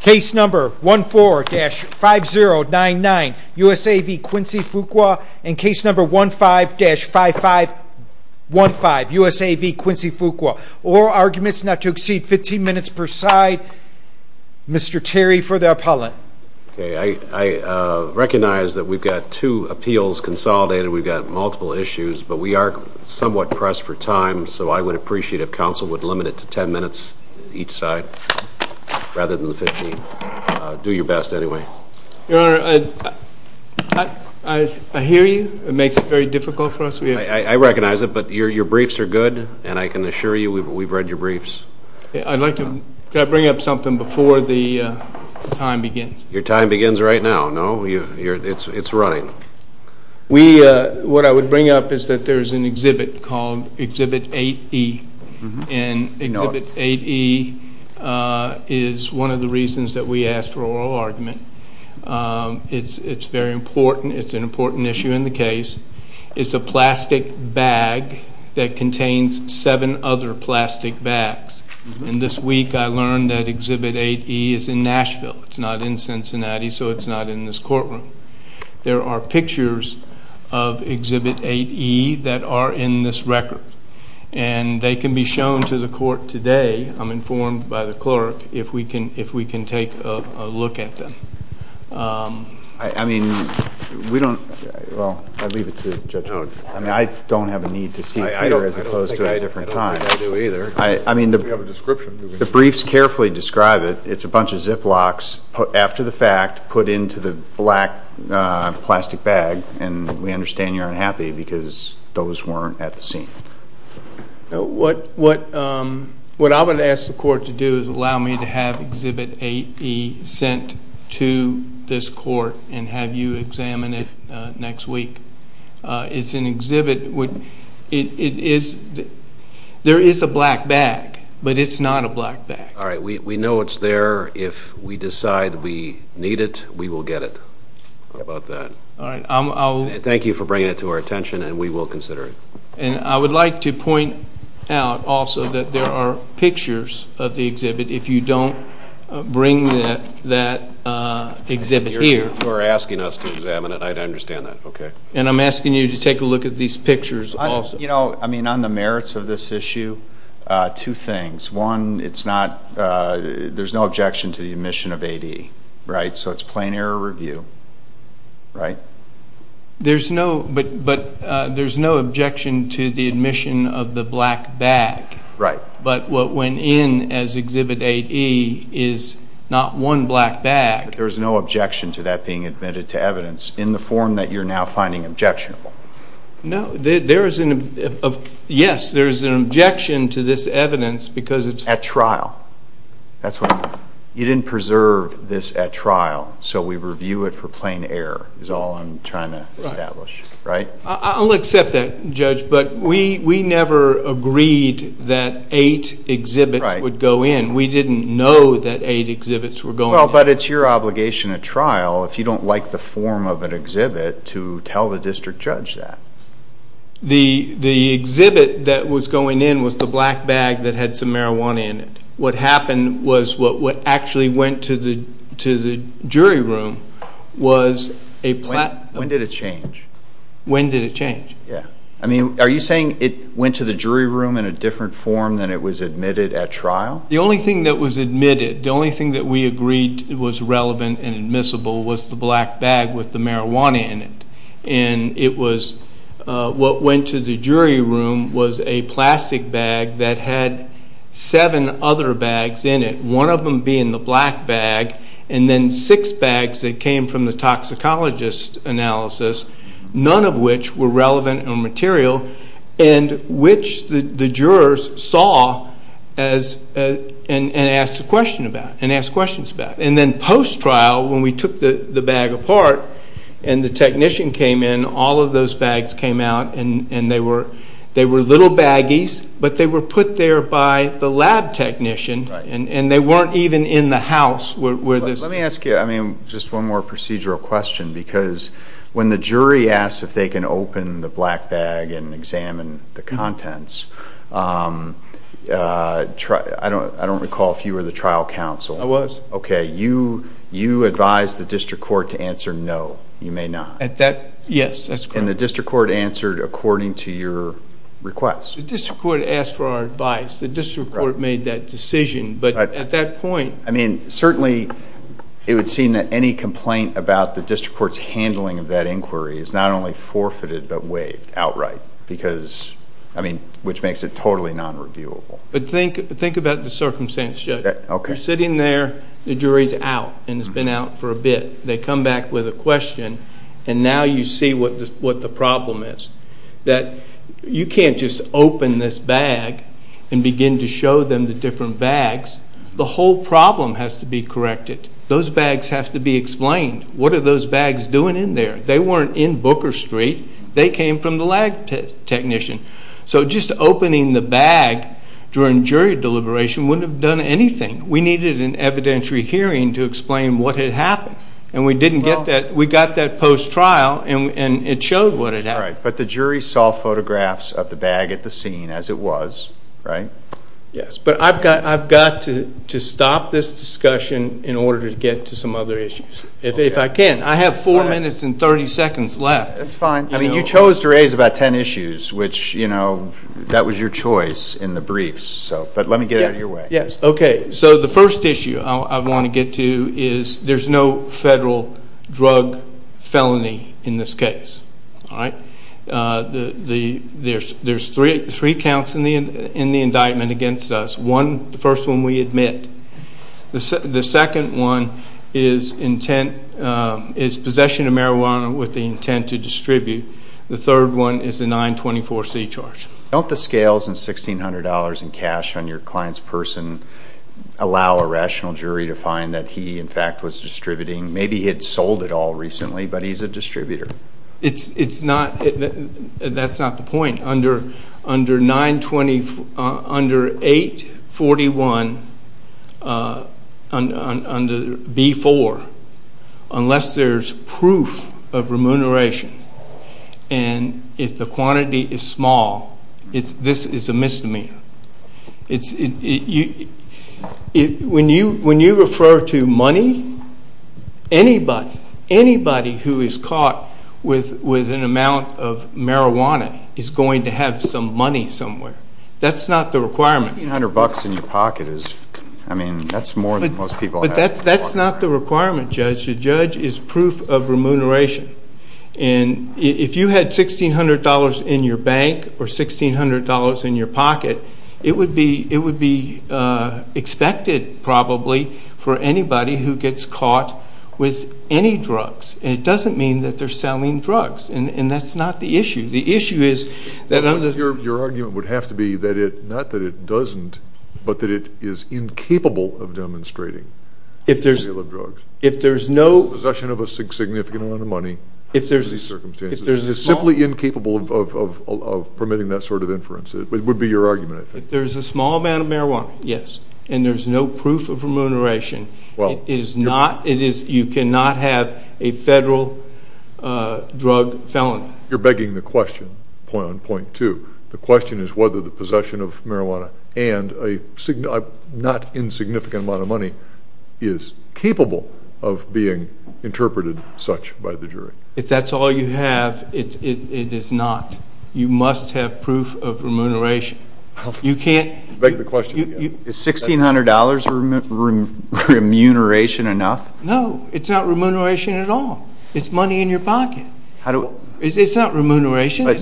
Case number 14-5099 USA v. Quincy Fuqua and case number 15-5515 USA v. Quincy Fuqua oral arguments not to exceed 15 minutes per side. Mr. Terry for the appellant. I recognize that we've got two appeals consolidated, we've got multiple issues, but we are somewhat pressed for time, so I would appreciate if counsel would limit it to 10 minutes each side rather than 15. Do your best anyway. Your Honor, I hear you. It makes it very difficult for us. I recognize it, but your briefs are good, and I can assure you we've read your briefs. Could I bring up something before the time begins? Your time begins right now, no? It's running. What I would bring up is that there's an exhibit called Exhibit 8E, and Exhibit 8E is one of the reasons that we asked for oral argument. It's very important. It's an important issue in the case. It's a plastic bag that contains seven other plastic bags, and this week I learned that Exhibit 8E is in Nashville. It's not in Cincinnati, so it's not in this courtroom. There are pictures of Exhibit 8E that are in this record, and they can be shown to the court today, I'm informed by the clerk, if we can take a look at them. I mean, we don't, well, I leave it to the judge. I mean, I don't have a need to see it here as opposed to at a different time. I don't think I do either. The briefs carefully describe it. It's a bunch of Ziplocs after the fact put into the black plastic bag, and we understand you're unhappy because those weren't at the scene. What I would ask the court to do is allow me to have Exhibit 8E sent to this court and have you examine it next week. It's an exhibit. There is a black bag, but it's not a black bag. All right. We know it's there. If we decide we need it, we will get it. How about that? All right. Thank you for bringing it to our attention, and we will consider it. And I would like to point out also that there are pictures of the exhibit if you don't bring that exhibit here. You're asking us to examine it. I understand that. And I'm asking you to take a look at these pictures also. You know, I mean, on the merits of this issue, two things. One, it's not, there's no objection to the admission of 8E, right? So it's plain error review, right? There's no, but there's no objection to the admission of the black bag. Right. But what went in as Exhibit 8E is not one black bag. But there's no objection to that being admitted to evidence in the form that you're now finding objectionable. No, there is an, yes, there is an objection to this evidence because it's- At trial. That's what, you didn't preserve this at trial, so we review it for plain error is all I'm trying to establish. Right. Right? I'll accept that, Judge, but we never agreed that 8 exhibits would go in. Right. We didn't know that 8 exhibits were going in. Well, but it's your obligation at trial, if you don't like the form of an exhibit, to tell the district judge that. The exhibit that was going in was the black bag that had some marijuana in it. What happened was what actually went to the jury room was a- When did it change? When did it change? Yeah. I mean, are you saying it went to the jury room in a different form than it was admitted at trial? The only thing that was admitted, the only thing that we agreed was relevant and admissible was the black bag with the marijuana in it. And it was, what went to the jury room was a plastic bag that had 7 other bags in it, one of them being the black bag, and then 6 bags that came from the toxicologist analysis, none of which were relevant or material, and which the jurors saw and asked questions about. And then post-trial, when we took the bag apart and the technician came in, all of those bags came out, and they were little baggies, but they were put there by the lab technician, and they weren't even in the house where this- I don't recall if you were the trial counsel. I was. Okay. You advised the district court to answer no. You may not. Yes, that's correct. And the district court answered according to your request. The district court asked for our advice. The district court made that decision, but at that point- I mean, certainly it would seem that any complaint about the district court's handling of that inquiry is not only forfeited, but waived outright, because, I mean, which makes it totally non-reviewable. But think about the circumstance, Judge. Okay. You're sitting there, the jury's out, and it's been out for a bit. They come back with a question, and now you see what the problem is, that you can't just open this bag and begin to show them the different bags. The whole problem has to be corrected. Those bags have to be explained. What are those bags doing in there? They weren't in Booker Street. They came from the lab technician. So just opening the bag during jury deliberation wouldn't have done anything. We needed an evidentiary hearing to explain what had happened, and we didn't get that. We got that post-trial, and it showed what had happened. All right. But the jury saw photographs of the bag at the scene as it was, right? Yes. But I've got to stop this discussion in order to get to some other issues, if I can. I have 4 minutes and 30 seconds left. That's fine. I mean, you chose to raise about 10 issues, which, you know, that was your choice in the briefs. But let me get it your way. Yes. Okay. So the first issue I want to get to is there's no federal drug felony in this case. All right. There's three counts in the indictment against us. The first one we admit. The second one is possession of marijuana with the intent to distribute. The third one is the 924C charge. Don't the scales and $1,600 in cash on your client's person allow a rational jury to find that he, in fact, was distributing? Maybe he had sold it all recently, but he's a distributor. It's not. That's not the point. Under 841B4, unless there's proof of remuneration, and if the quantity is small, this is a misdemeanor. When you refer to money, anybody, anybody who is caught with an amount of marijuana is going to have some money somewhere. That's not the requirement. $1,600 in your pocket is, I mean, that's more than most people have. But that's not the requirement, Judge. The judge is proof of remuneration. And if you had $1,600 in your bank or $1,600 in your pocket, it would be expected, probably, for anybody who gets caught with any drugs. And it doesn't mean that they're selling drugs. And that's not the issue. The issue is that under— Your argument would have to be not that it doesn't, but that it is incapable of demonstrating the sale of drugs. If there's no— It's simply incapable of permitting that sort of inference. It would be your argument, I think. If there's a small amount of marijuana, yes, and there's no proof of remuneration, it is not—you cannot have a federal drug felony. You're begging the question on point two. The question is whether the possession of marijuana and a not insignificant amount of money is capable of being interpreted such by the jury. If that's all you have, it is not. You must have proof of remuneration. You can't— Beg the question again. Is $1,600 remuneration enough? No, it's not remuneration at all. It's money in your pocket. It's not remuneration. We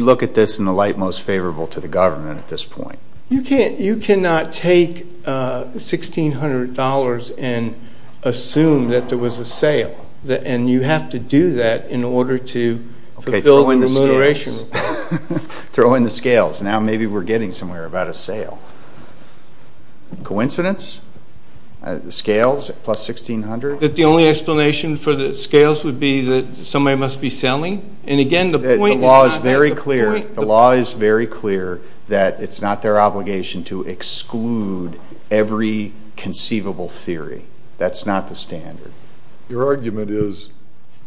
look at this in the light most favorable to the government at this point. You cannot take $1,600 and assume that there was a sale, and you have to do that in order to fulfill the remuneration. Throw in the scales. Now maybe we're getting somewhere about a sale. Scales plus $1,600? That the only explanation for the scales would be that somebody must be selling? And again, the point is not— The law is very clear. The law is very clear that it's not their obligation to exclude every conceivable theory. That's not the standard. Your argument is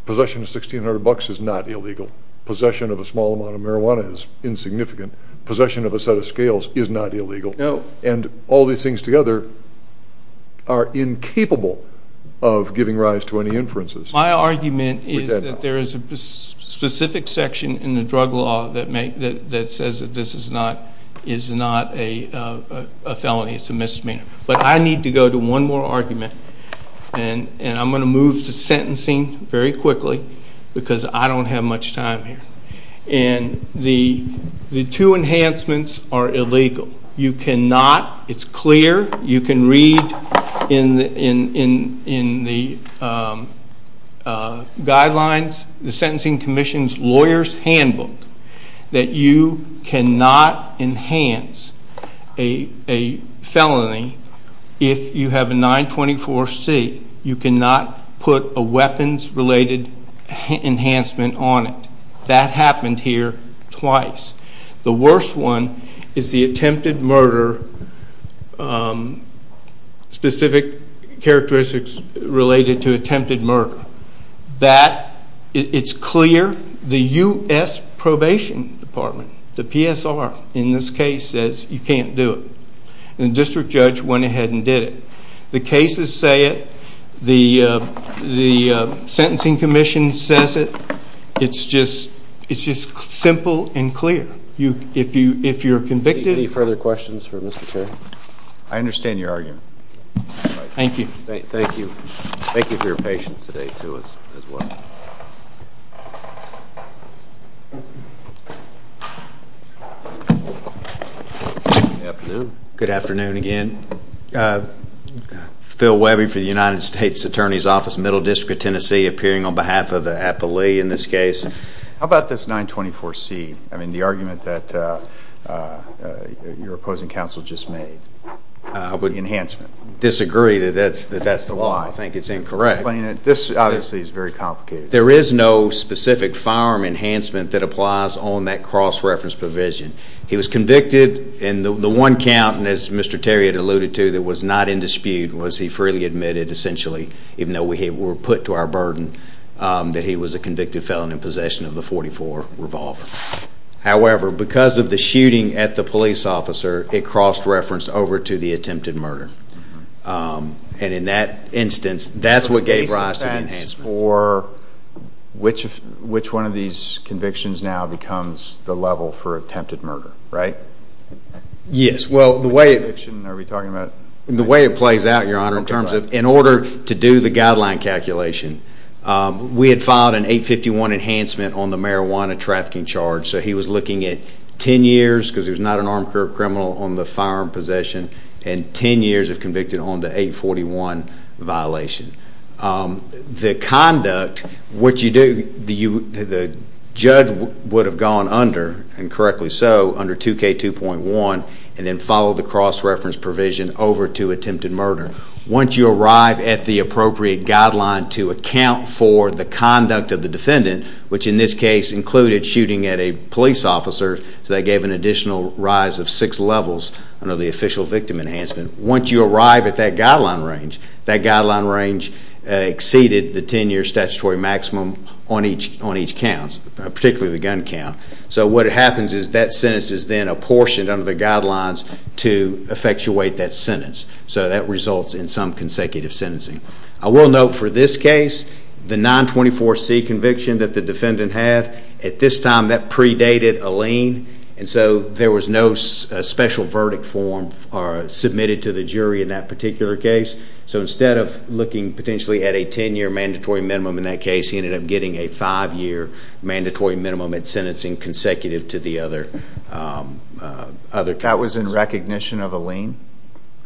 possession of $1,600 is not illegal. Possession of a small amount of marijuana is insignificant. Possession of a set of scales is not illegal. No. And all these things together are incapable of giving rise to any inferences. My argument is that there is a specific section in the drug law that says that this is not a felony. It's a misdemeanor. But I need to go to one more argument, and I'm going to move to sentencing very quickly because I don't have much time here. And the two enhancements are illegal. You cannot—it's clear. You can read in the guidelines, the Sentencing Commission's lawyer's handbook, that you cannot enhance a felony if you have a 924C. You cannot put a weapons-related enhancement on it. That happened here twice. The worst one is the attempted murder, specific characteristics related to attempted murder. That, it's clear. The U.S. Probation Department, the PSR, in this case, says you can't do it. And the district judge went ahead and did it. The cases say it. The Sentencing Commission says it. It's just simple and clear. If you're convicted— Any further questions for Mr. Terry? I understand your argument. Thank you. Thank you. Thank you for your patience today, too, as well. Good afternoon. Good afternoon again. Phil Webby for the United States Attorney's Office, Middle District of Tennessee, appearing on behalf of the appellee in this case. How about this 924C, the argument that your opposing counsel just made, the enhancement? I would disagree that that's the law. I think it's incorrect. This, obviously, is very complicated. There is no specific firearm enhancement that applies on that cross-reference provision. He was convicted, and the one count, as Mr. Terry had alluded to, that was not in dispute, was he freely admitted, essentially, even though we were put to our burden, that he was a convicted felon in possession of the .44 revolver. However, because of the shooting at the police officer, it crossed-referenced over to the attempted murder. And in that instance, that's what gave rise to the enhancement. Which one of these convictions now becomes the level for attempted murder, right? Yes. Well, the way it plays out, Your Honor, in order to do the guideline calculation, we had filed an 851 enhancement on the marijuana trafficking charge, so he was looking at 10 years because he was not an armed criminal on the firearm possession and 10 years if convicted on the 841 violation. The conduct, what you do, the judge would have gone under, and correctly so, under 2K2.1 and then followed the cross-reference provision over to attempted murder. Once you arrive at the appropriate guideline to account for the conduct of the defendant, which in this case included shooting at a police officer, so that gave an additional rise of six levels under the official victim enhancement. Once you arrive at that guideline range, that guideline range exceeded the 10-year statutory maximum on each count, particularly the gun count. So what happens is that sentence is then apportioned under the guidelines to effectuate that sentence. So that results in some consecutive sentencing. I will note for this case, the 924C conviction that the defendant had, at this time that predated a lien, and so there was no special verdict form submitted to the jury in that particular case. So instead of looking potentially at a 10-year mandatory minimum in that case, he ended up getting a five-year mandatory minimum at sentencing consecutive to the other count. That was in recognition of a lien?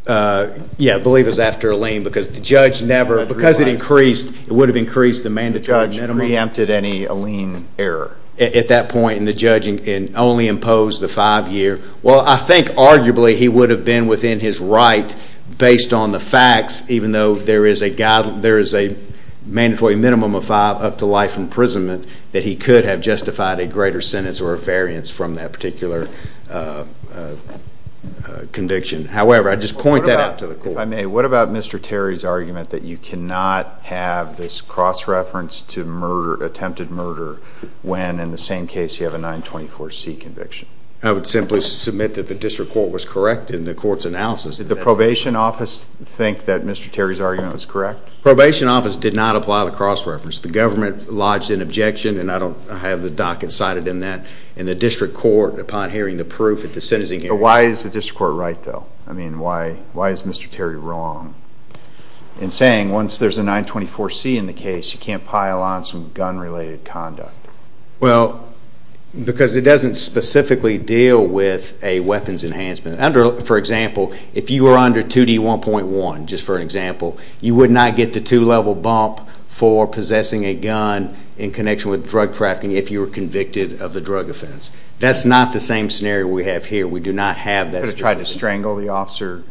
Yeah, I believe it was after a lien because the judge never, because it increased, it would have increased the mandatory minimum. So the judge preempted any lien error? At that point, the judge only imposed the five-year. Well, I think arguably he would have been within his right based on the facts, even though there is a mandatory minimum of five up to life imprisonment, that he could have justified a greater sentence or a variance from that particular conviction. However, I just point that out to the court. If I may, what about Mr. Terry's argument that you cannot have this cross-reference to attempted murder when in the same case you have a 924C conviction? I would simply submit that the district court was correct in the court's analysis. Did the probation office think that Mr. Terry's argument was correct? The probation office did not apply the cross-reference. The government lodged an objection, and I don't have the docket cited in that, in the district court upon hearing the proof at the sentencing hearing. Why is the district court right, though? I mean, why is Mr. Terry wrong in saying once there's a 924C in the case, you can't pile on some gun-related conduct? Well, because it doesn't specifically deal with a weapons enhancement. For example, if you were under 2D1.1, just for an example, you would not get the two-level bump for possessing a gun in connection with drug trafficking if you were convicted of a drug offense. That's not the same scenario we have here. We do not have that specificity. You could have tried to strangle the officer.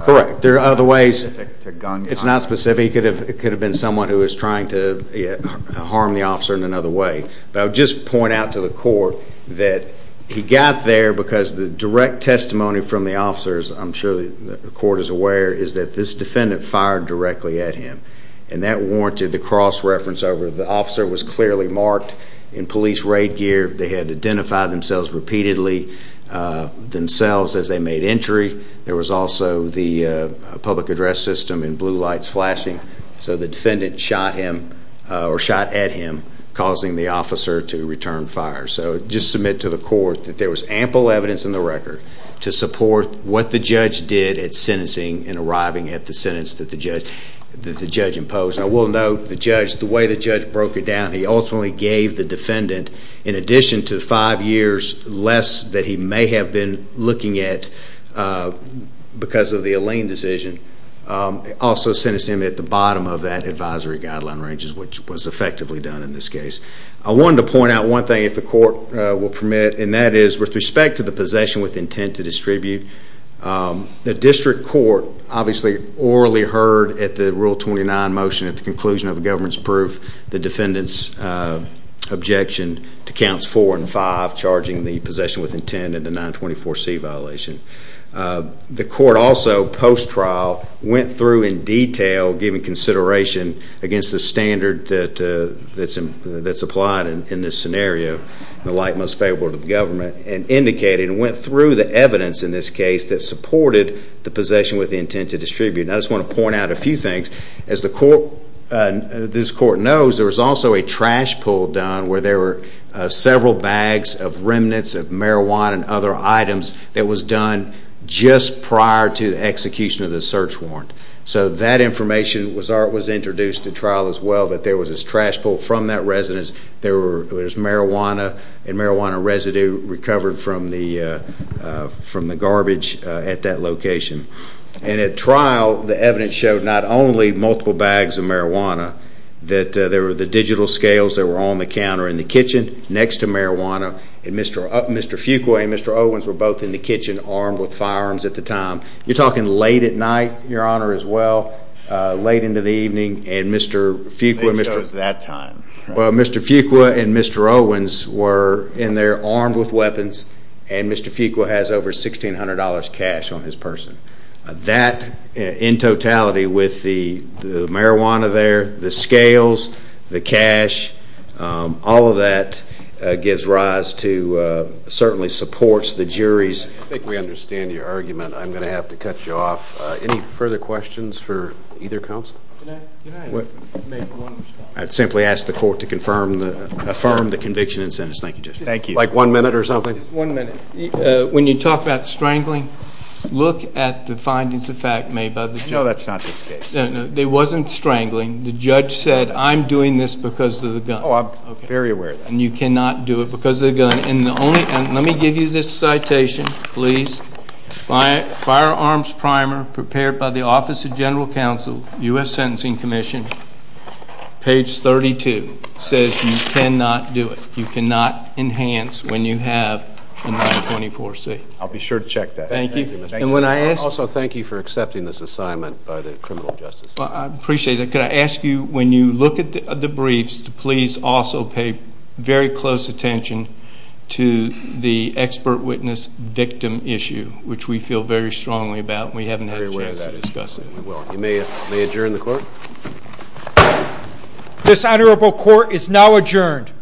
Correct. There are other ways. It's not specific to gun conduct. It's not specific. It could have been someone who was trying to harm the officer in another way. But I would just point out to the court that he got there because the direct testimony from the officers, I'm sure the court is aware, is that this defendant fired directly at him, and that warranted the cross-reference over. The officer was clearly marked in police raid gear. They had identified themselves repeatedly, themselves, as they made entry. There was also the public address system and blue lights flashing. So the defendant shot him or shot at him, causing the officer to return fire. So just submit to the court that there was ample evidence in the record to support what the judge did at sentencing in arriving at the sentence that the judge imposed. And I will note the way the judge broke it down, he ultimately gave the defendant, in addition to five years less that he may have been looking at because of the Alleen decision, also sentenced him at the bottom of that advisory guideline ranges, which was effectively done in this case. I wanted to point out one thing, if the court will permit, and that is with respect to the possession with intent to distribute, the district court obviously orally heard at the Rule 29 motion, at the conclusion of the government's proof, the defendant's objection to Counts 4 and 5, charging the possession with intent and the 924C violation. The court also, post-trial, went through in detail, giving consideration against the standard that's applied in this scenario, the light most favorable to the government, and indicated and went through the evidence in this case that supported the possession with intent to distribute. And I just want to point out a few things. As this court knows, there was also a trash pull done where there were several bags of remnants of marijuana and other items that was done just prior to the execution of the search warrant. So that information was introduced at trial as well, that there was this trash pull from that residence, there was marijuana and marijuana residue recovered from the garbage at that location. And at trial, the evidence showed not only multiple bags of marijuana, that there were the digital scales that were on the counter in the kitchen next to marijuana, and Mr. Fuqua and Mr. Owens were both in the kitchen armed with firearms at the time. You're talking late at night, Your Honor, as well, late into the evening, and Mr. Fuqua... Well, Mr. Fuqua and Mr. Owens were in there armed with weapons, and Mr. Fuqua has over $1,600 cash on his person. That, in totality, with the marijuana there, the scales, the cash, all of that gives rise to, certainly supports the jury's... I think we understand your argument. I'm going to have to cut you off. Any further questions for either counsel? I'd simply ask the court to affirm the conviction in sentence. Thank you, Judge. Thank you. Like one minute or something? One minute. When you talk about strangling, look at the findings of fact made by the judge. No, that's not this case. No, no, it wasn't strangling. The judge said, I'm doing this because of the gun. Oh, I'm very aware of that. And you cannot do it because of the gun. Let me give you this citation, please. Firearms primer prepared by the Office of General Counsel, U.S. Sentencing Commission, page 32, says you cannot do it, you cannot enhance when you have a 924-C. I'll be sure to check that. Thank you. Also, thank you for accepting this assignment by the criminal justice. I appreciate that. Could I ask you, when you look at the briefs, to please also pay very close attention to the expert witness victim issue, which we feel very strongly about and we haven't had a chance to discuss it. You may adjourn the court. This honorable court is now adjourned.